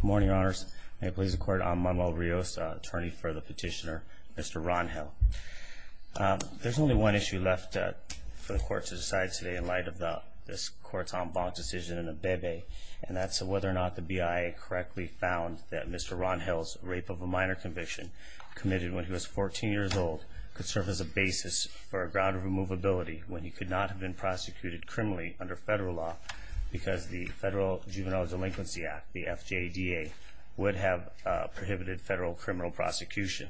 Good morning, Your Honors. May it please the Court, I'm Manuel Rios, attorney for the petitioner, Mr. Rangel. There's only one issue left for the Court to decide today in light of this Court's en banc decision in Abebe, and that's whether or not the BIA correctly found that Mr. Rangel's rape of a minor conviction, committed when he was 14 years old, could serve as a basis for a ground of removability when he could not have been prosecuted criminally under federal law because the Federal Juvenile Delinquency Act, the FJDA, would have prohibited federal criminal prosecution.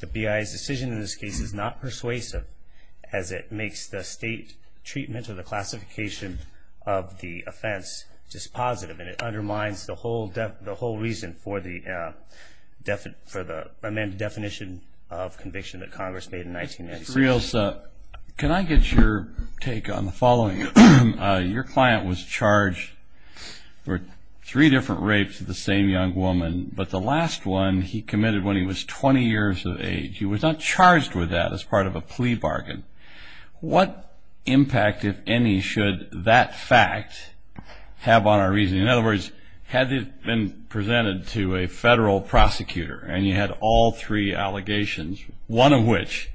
The BIA's decision in this case is not persuasive as it makes the state treatment or the classification of the offense dispositive, and it undermines the whole reason for the amended definition of conviction that Congress made in 1996. Mr. Rios, can I get your take on the following? Your client was charged for three different rapes of the same young woman, but the last one he committed when he was 20 years of age. He was not charged with that as part of a plea bargain. What impact, if any, should that fact have on our reasoning? In other words, had it been presented to a federal prosecutor and you had all three allegations, one of which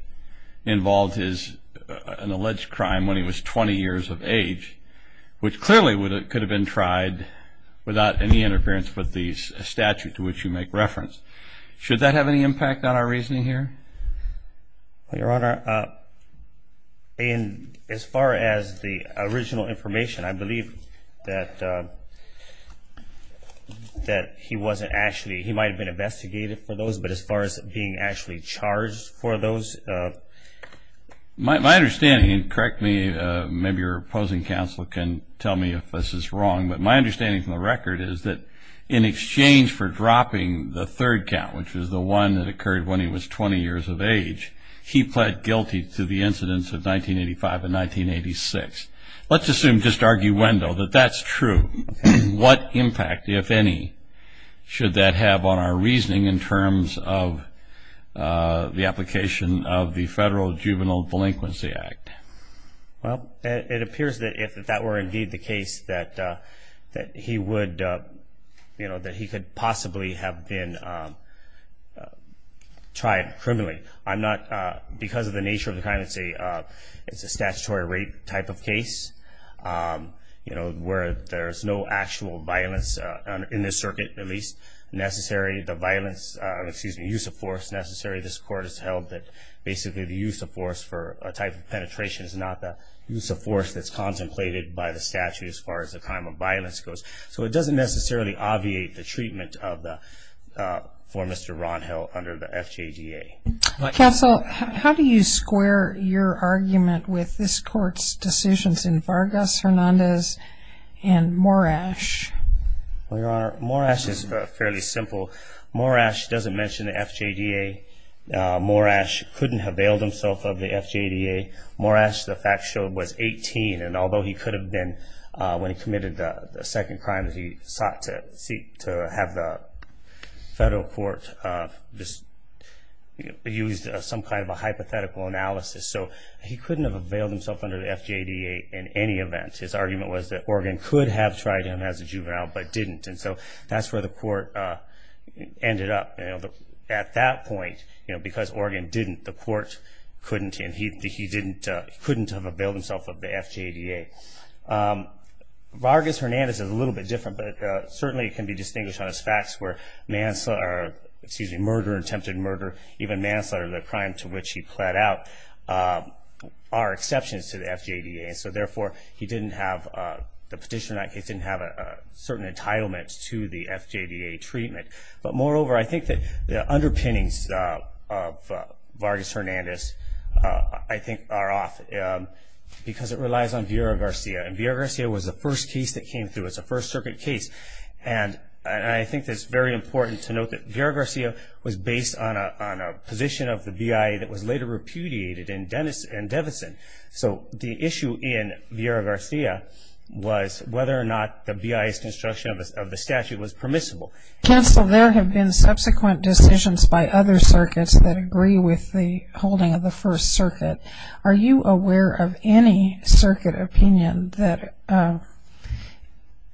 involved an alleged crime when he was 20 years of age, which clearly could have been tried without any interference with the statute to which you make reference, should that have any impact on our reasoning here? Your Honor, as far as the original information, I believe that he might have been investigated for those, but as far as being actually charged for those? My understanding, and correct me, maybe your opposing counsel can tell me if this is wrong, but my understanding from the record is that in exchange for dropping the third count, which was the one that occurred when he was 20 years of age, he pled guilty to the incidents of 1985 and 1986. Let's assume, just arguendo, that that's true. What impact, if any, should that have on our reasoning in terms of the application of the Federal Juvenile Delinquency Act? Well, it appears that if that were indeed the case, that he would, you know, that he could possibly have been tried criminally. I'm not, because of the nature of the crime, it's a statutory rape type of case, you know, where there's no actual violence in this circuit, at least necessary, the violence, excuse me, use of force necessary. This Court has held that basically the use of force for a type of penetration is not the use of force that's contemplated by the statute as far as the crime of violence goes. So it doesn't necessarily obviate the treatment for Mr. Ronhill under the FJDA. Counsel, how do you square your argument with this Court's decisions in Vargas, Hernandez, and Morash? Well, Your Honor, Morash is fairly simple. Morash doesn't mention the FJDA. Morash couldn't have bailed himself of the FJDA. Morash, the fact showed, was 18, and although he could have been, when he committed the second crime that he sought to have the federal court just use some kind of a hypothetical analysis. So he couldn't have bailed himself under the FJDA in any event. His argument was that Oregon could have tried him as a juvenile but didn't, and so that's where the Court ended up. At that point, you know, because Oregon didn't, the Court couldn't, and he couldn't have bailed himself of the FJDA. Vargas, Hernandez is a little bit different, but certainly it can be distinguished on his facts where manslaughter, excuse me, murder, attempted murder, even manslaughter, the crime to which he pled out are exceptions to the FJDA. So therefore, he didn't have the petition, he didn't have a certain entitlement to the FJDA treatment. But moreover, I think that the underpinnings of Vargas-Hernandez, I think, are off because it relies on Vieira-Garcia, and Vieira-Garcia was the first case that came through. It's a First Circuit case, and I think it's very important to note that Vieira-Garcia was based on a position of the BIA that was later repudiated in Devison. So the issue in Vieira-Garcia was whether or not the BIA's construction of the statute was permissible. Counsel, there have been subsequent decisions by other circuits that agree with the holding of the First Circuit. Are you aware of any circuit opinion that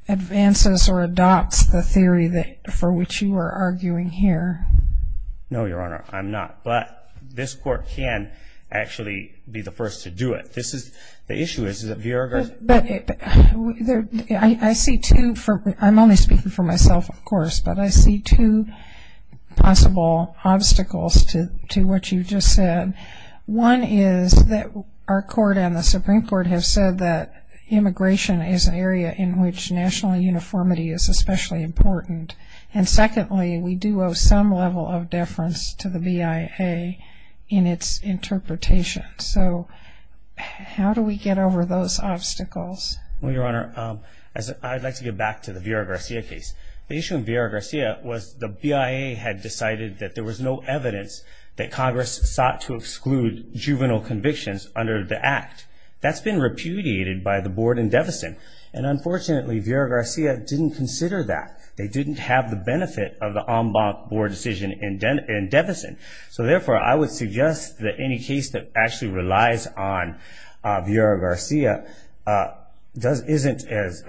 advances or adopts the theory for which you are arguing here? No, Your Honor, I'm not. But this Court can actually be the first to do it. This is the issue is that Vieira-Garcia I'm only speaking for myself, of course, but I see two possible obstacles to what you just said. One is that our Court and the Supreme Court have said that immigration is an area in which national uniformity is especially important. And secondly, we do owe some level of deference to the BIA in its interpretation. So how do we get over those obstacles? Well, Your Honor, I'd like to get back to the Vieira-Garcia case. The issue in Vieira-Garcia was the BIA had decided that there was no evidence that Congress sought to exclude juvenile convictions under the Act. That's been repudiated by the Board in Devison. And unfortunately, Vieira-Garcia didn't consider that. They didn't have the benefit of the en banc Board decision in Devison. So therefore, I would suggest that any case that actually relies on Vieira-Garcia isn't as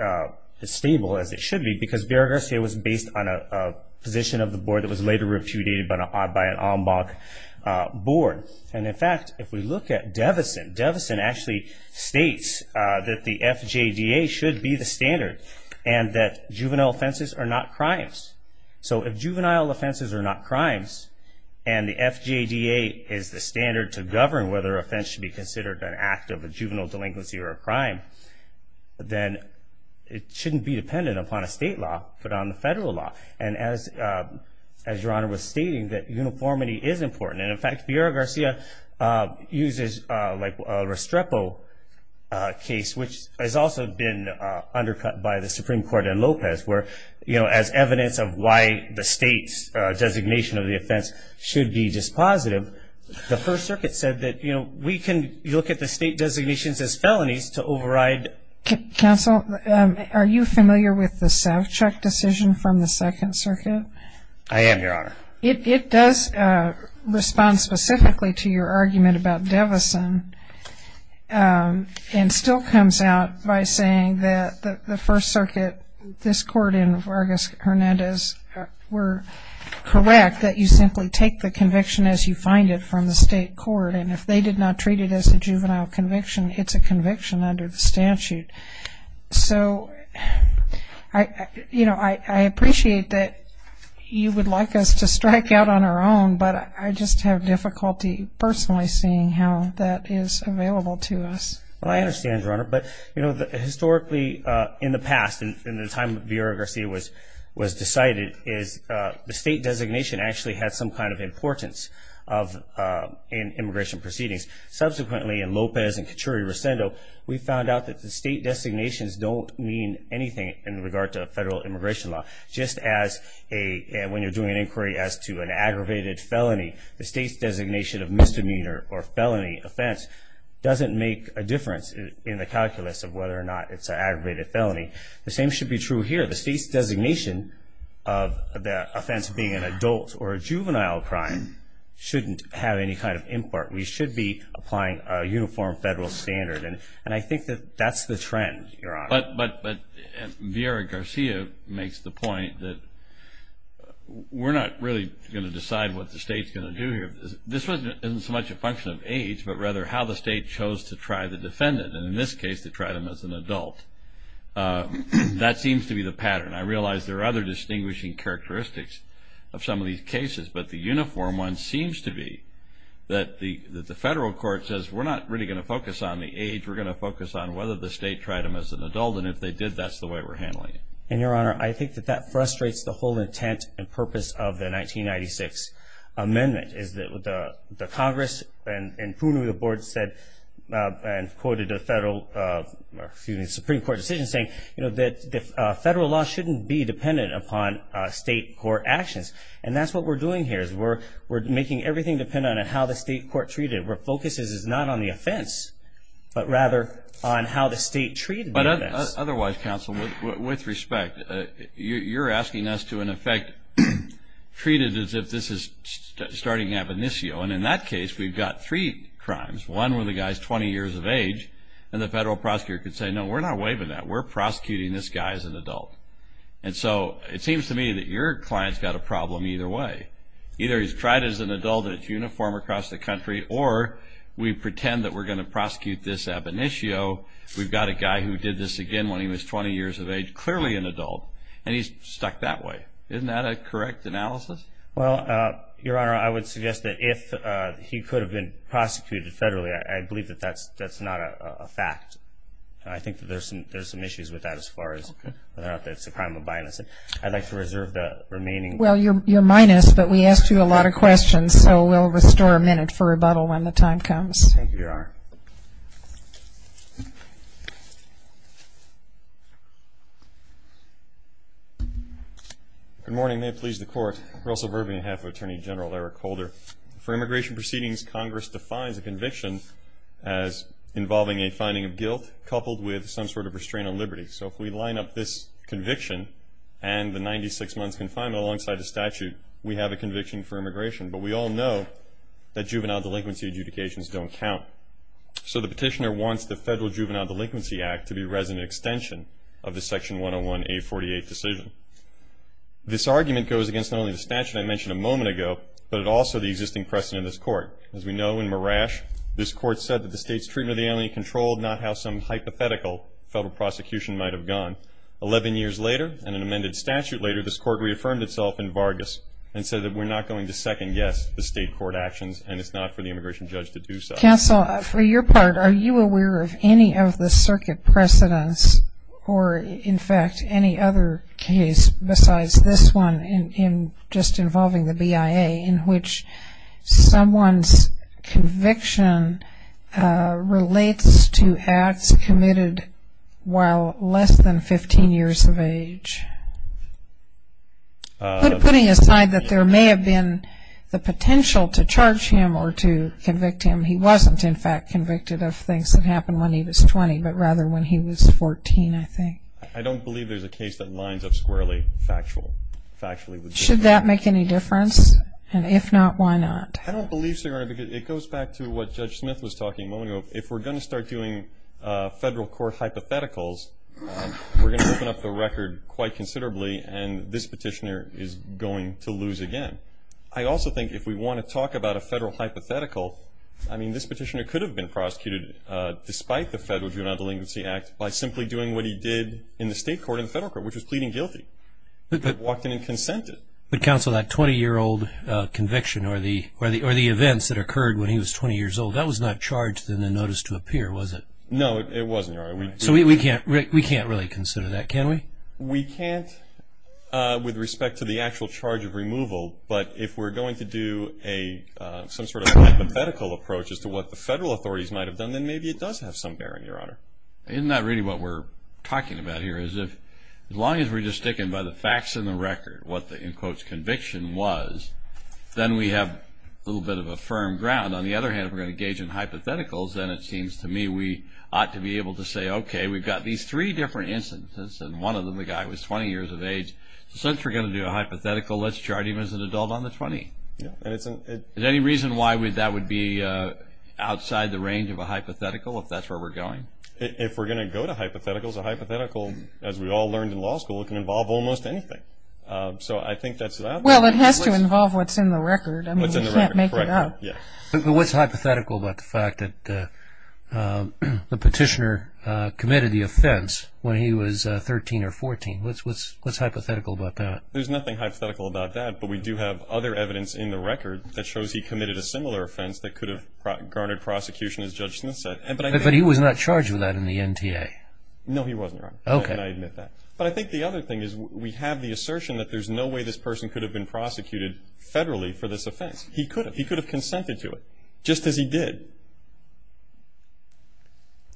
stable as it should be because Vieira-Garcia was based on a position of the Board that was later repudiated by an en banc Board. And in fact, if we look at Devison, Devison actually states that the FJDA should be the standard and that juvenile offenses are not crimes. So if juvenile offenses are not crimes and the FJDA is the standard to govern whether offense should be considered an act of a juvenile delinquency or a crime, then it shouldn't be dependent upon a state law but on the federal law. And as Your Honor was stating, that uniformity is important. And in fact, Vieira-Garcia uses a Restrepo case, which has also been undercut by the Supreme Court and Lopez, where as evidence of why the state's designation of the offense should be dispositive, the First Circuit said that we can look at the state designations as felonies to override. Counsel, are you familiar with the Savchuk decision from the Second Circuit? I am, Your Honor. It does respond specifically to your argument about Devison and still comes out by saying that the First Circuit, this court and Vargas-Hernandez were correct that you simply take the conviction as you find it from the state court. And if they did not treat it as a juvenile conviction, it's a conviction under the statute. So I appreciate that you would like us to strike out on our own, but I just have difficulty personally seeing how that is available to us. Well, I understand, Your Honor. But, you know, historically in the past, in the time that Vieira-Garcia was decided, the state designation actually had some kind of importance in immigration proceedings. Subsequently, in Lopez and Cachuri-Rosendo, we found out that the state designations don't mean anything in regard to a federal immigration law, just as when you're doing an inquiry as to an aggravated felony, the state's designation of misdemeanor or felony offense doesn't make a difference in the calculus of whether or not it's an aggravated felony. The same should be true here. The state's designation of the offense being an adult or a juvenile crime shouldn't have any kind of import. We should be applying a uniform federal standard. And I think that that's the trend, Your Honor. But Vieira-Garcia makes the point that we're not really going to decide what the state's going to do here. This isn't so much a function of age, but rather how the state chose to try the defendant, and in this case they tried him as an adult. That seems to be the pattern. I realize there are other distinguishing characteristics of some of these cases, but the uniform one seems to be that the federal court says we're not really going to focus on the age, we're going to focus on whether the state tried him as an adult. And if they did, that's the way we're handling it. And, Your Honor, I think that that frustrates the whole intent and purpose of the 1996 amendment, is that the Congress and prudently the board said and quoted a federal, excuse me, Supreme Court decision saying that federal law shouldn't be dependent upon state court actions. And that's what we're doing here is we're making everything dependent on how the state court treated it, and what our focus is is not on the offense, but rather on how the state treated the offense. But otherwise, counsel, with respect, you're asking us to, in effect, treat it as if this is starting ab initio, and in that case we've got three crimes. One where the guy's 20 years of age and the federal prosecutor can say, no, we're not waiving that. We're prosecuting this guy as an adult. And so it seems to me that your client's got a problem either way. Whether it's uniform across the country or we pretend that we're going to prosecute this ab initio, we've got a guy who did this again when he was 20 years of age, clearly an adult, and he's stuck that way. Isn't that a correct analysis? Well, Your Honor, I would suggest that if he could have been prosecuted federally, I believe that that's not a fact. I think that there's some issues with that as far as whether or not that's a crime of bias. I'd like to reserve the remaining. Well, you're minus, but we asked you a lot of questions, so we'll restore a minute for rebuttal when the time comes. Thank you, Your Honor. Good morning. May it please the Court. Russell Verby, on behalf of Attorney General Eric Holder. For immigration proceedings, Congress defines a conviction as involving a finding of guilt coupled with some sort of restraint on liberty. So if we line up this conviction and the 96 months confinement alongside the statute, we have a conviction for immigration. But we all know that juvenile delinquency adjudications don't count. So the petitioner wants the Federal Juvenile Delinquency Act to be resident extension of the Section 101A48 decision. This argument goes against not only the statute I mentioned a moment ago, but also the existing precedent in this Court. As we know, in Marash, this Court said that the state's treatment of the alien controlled, not how some hypothetical federal prosecution might have gone. Eleven years later and an amended statute later, this Court reaffirmed itself in Vargas and said that we're not going to second guess the state court actions and it's not for the immigration judge to do so. Counsel, for your part, are you aware of any of the circuit precedents or, in fact, any other case besides this one in just involving the BIA in which someone's conviction relates to acts committed while less than 15 years of age? Putting aside that there may have been the potential to charge him or to convict him, he wasn't, in fact, convicted of things that happened when he was 20, but rather when he was 14, I think. I don't believe there's a case that lines up squarely factually. Should that make any difference? And if not, why not? I don't believe so, Your Honor, because it goes back to what Judge Smith was talking a moment ago. If we're going to start doing federal court hypotheticals, we're going to open up the record quite considerably, and this petitioner is going to lose again. I also think if we want to talk about a federal hypothetical, I mean, this petitioner could have been prosecuted despite the Federal Juvenile Delinquency Act by simply doing what he did in the state court and the federal court, which was pleading guilty, but walked in and consented. But, Counsel, that 20-year-old conviction or the events that occurred when he was 20 years old, that was not charged in the notice to appear, was it? No, it wasn't, Your Honor. So we can't really consider that, can we? We can't with respect to the actual charge of removal, but if we're going to do some sort of hypothetical approach as to what the federal authorities might have done, then maybe it does have some bearing, Your Honor. Isn't that really what we're talking about here? As long as we're just sticking by the facts and the record, what the, in quotes, conviction was, then we have a little bit of a firm ground. On the other hand, if we're going to engage in hypotheticals, then it seems to me we ought to be able to say, okay, we've got these three different instances, and one of them, the guy, was 20 years of age. Since we're going to do a hypothetical, let's charge him as an adult on the 20. Is there any reason why that would be outside the range of a hypothetical, if that's where we're going? If we're going to go to hypotheticals, a hypothetical, as we all learned in law school, can involve almost anything. So I think that's out there. Well, it has to involve what's in the record. I mean, we can't make it up. What's hypothetical about the fact that the petitioner committed the offense when he was 13 or 14? What's hypothetical about that? There's nothing hypothetical about that. But we do have other evidence in the record that shows he committed a similar offense that could have garnered prosecution, as Judge Smith said. But he was not charged with that in the NTA. No, he wasn't, Your Honor. Okay. And I admit that. But I think the other thing is we have the assertion that there's no way this person could have been prosecuted federally for this offense. He could have. He could have consented to it, just as he did.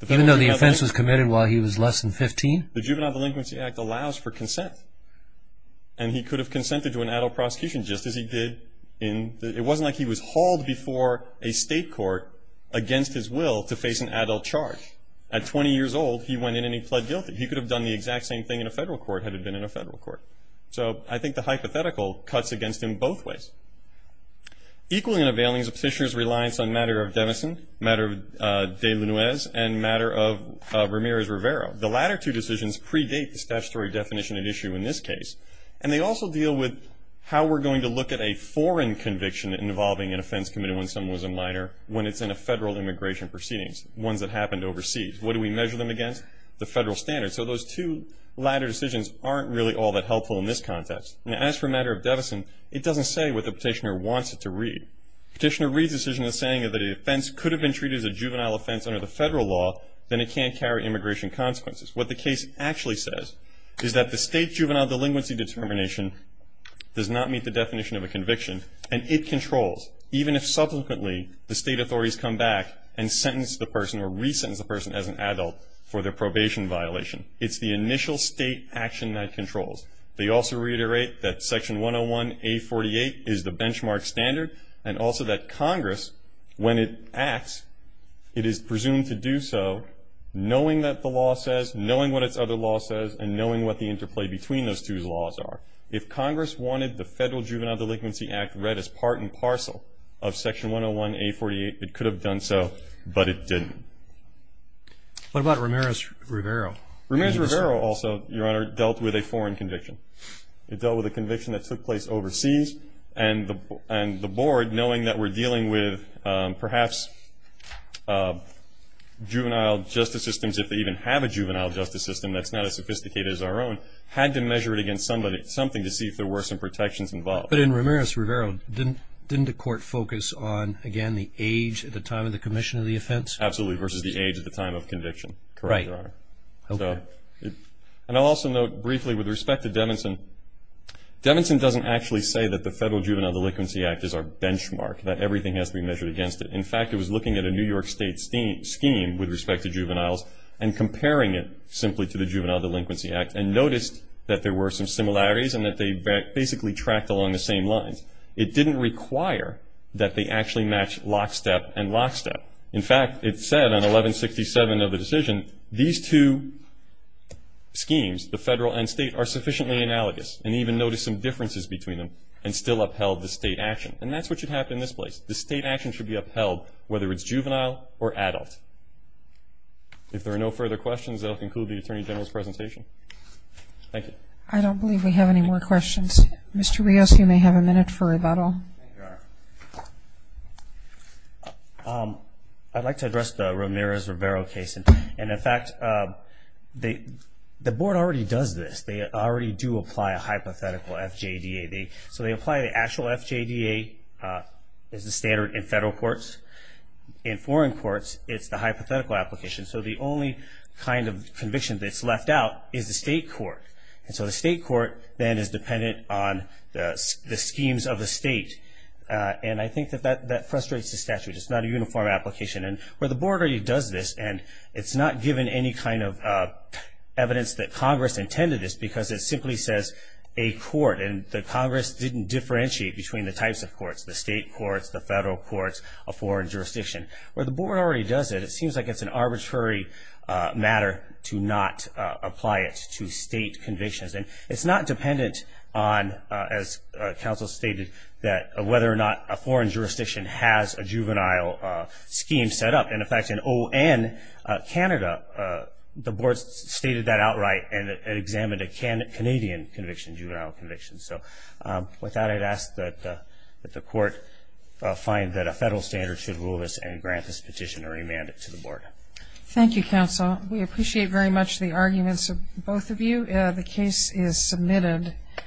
Even though the offense was committed while he was less than 15? The Juvenile Delinquency Act allows for consent. And he could have consented to an adult prosecution, just as he did. It wasn't like he was hauled before a state court against his will to face an adult charge. At 20 years old, he went in and he pled guilty. He could have done the exact same thing in a federal court, had it been in a federal court. So I think the hypothetical cuts against him both ways. Equally in a bailing, is a petitioner's reliance on matter of demison, matter of de Luiz, and matter of Ramirez-Rivero. The latter two decisions predate the statutory definition at issue in this case. And they also deal with how we're going to look at a foreign conviction involving an offense committed when someone was a minor, when it's in a federal immigration proceedings, ones that happened overseas. What do we measure them against? The federal standards. So those two latter decisions aren't really all that helpful in this context. And as for matter of demison, it doesn't say what the petitioner wants it to read. Petitioner reads the decision as saying that if an offense could have been treated as a juvenile offense under the federal law, then it can't carry immigration consequences. What the case actually says is that the state juvenile delinquency determination does not meet the definition of a conviction, and it controls even if subsequently the state authorities come back and sentence the person or re-sentence the person as an adult for their probation violation. It's the initial state action that controls. They also reiterate that Section 101A48 is the benchmark standard, and also that Congress, when it acts, it is presumed to do so knowing that the law says, knowing what its other law says, and knowing what the interplay between those two laws are. If Congress wanted the Federal Juvenile Delinquency Act read as part and parcel of Section 101A48, it could have done so, but it didn't. What about Ramirez-Rivero? Ramirez-Rivero also, Your Honor, dealt with a foreign conviction. It dealt with a conviction that took place overseas, and the board, knowing that we're dealing with perhaps juvenile justice systems, if they even have a juvenile justice system that's not as sophisticated as our own, had to measure it against something to see if there were some protections involved. But in Ramirez-Rivero, didn't the court focus on, again, the age at the time of the commission of the offense? Absolutely, versus the age at the time of conviction. Correct, Your Honor. Right. And I'll also note briefly with respect to Devinson, Devinson doesn't actually say that the Federal Juvenile Delinquency Act is our benchmark, that everything has to be measured against it. In fact, it was looking at a New York State scheme with respect to juveniles and comparing it simply to the Juvenile Delinquency Act and noticed that there were some similarities and that they basically tracked along the same lines. It didn't require that they actually match lockstep and lockstep. In fact, it said on 1167 of the decision, these two schemes, the federal and state, are sufficiently analogous and even notice some differences between them and still upheld the state action. And that's what should happen in this place. The state action should be upheld whether it's juvenile or adult. If there are no further questions, that will conclude the Attorney General's presentation. Thank you. I don't believe we have any more questions. Mr. Rios, you may have a minute for rebuttal. Thank you, Your Honor. I'd like to address the Ramirez-Rivero case. And, in fact, the Board already does this. They already do apply a hypothetical FJDA. So they apply the actual FJDA as the standard in federal courts. In foreign courts, it's the hypothetical application. So the only kind of conviction that's left out is the state court. And so the state court then is dependent on the schemes of the state. And I think that that frustrates the statute. It's not a uniform application. And where the Board already does this, and it's not given any kind of evidence that Congress intended this because it simply says a court, and the Congress didn't differentiate between the types of courts, the state courts, the federal courts, a foreign jurisdiction. Where the Board already does it, it seems like it's an arbitrary matter to not apply it to state convictions. And it's not dependent on, as counsel stated, whether or not a foreign jurisdiction has a juvenile scheme set up. And, in fact, in O.N., Canada, the Board stated that outright and it examined a Canadian conviction, juvenile conviction. So with that, I'd ask that the court find that a federal standard should rule this and grant this petition a remand to the Board. Thank you, counsel. We appreciate very much the arguments of both of you. The case is submitted.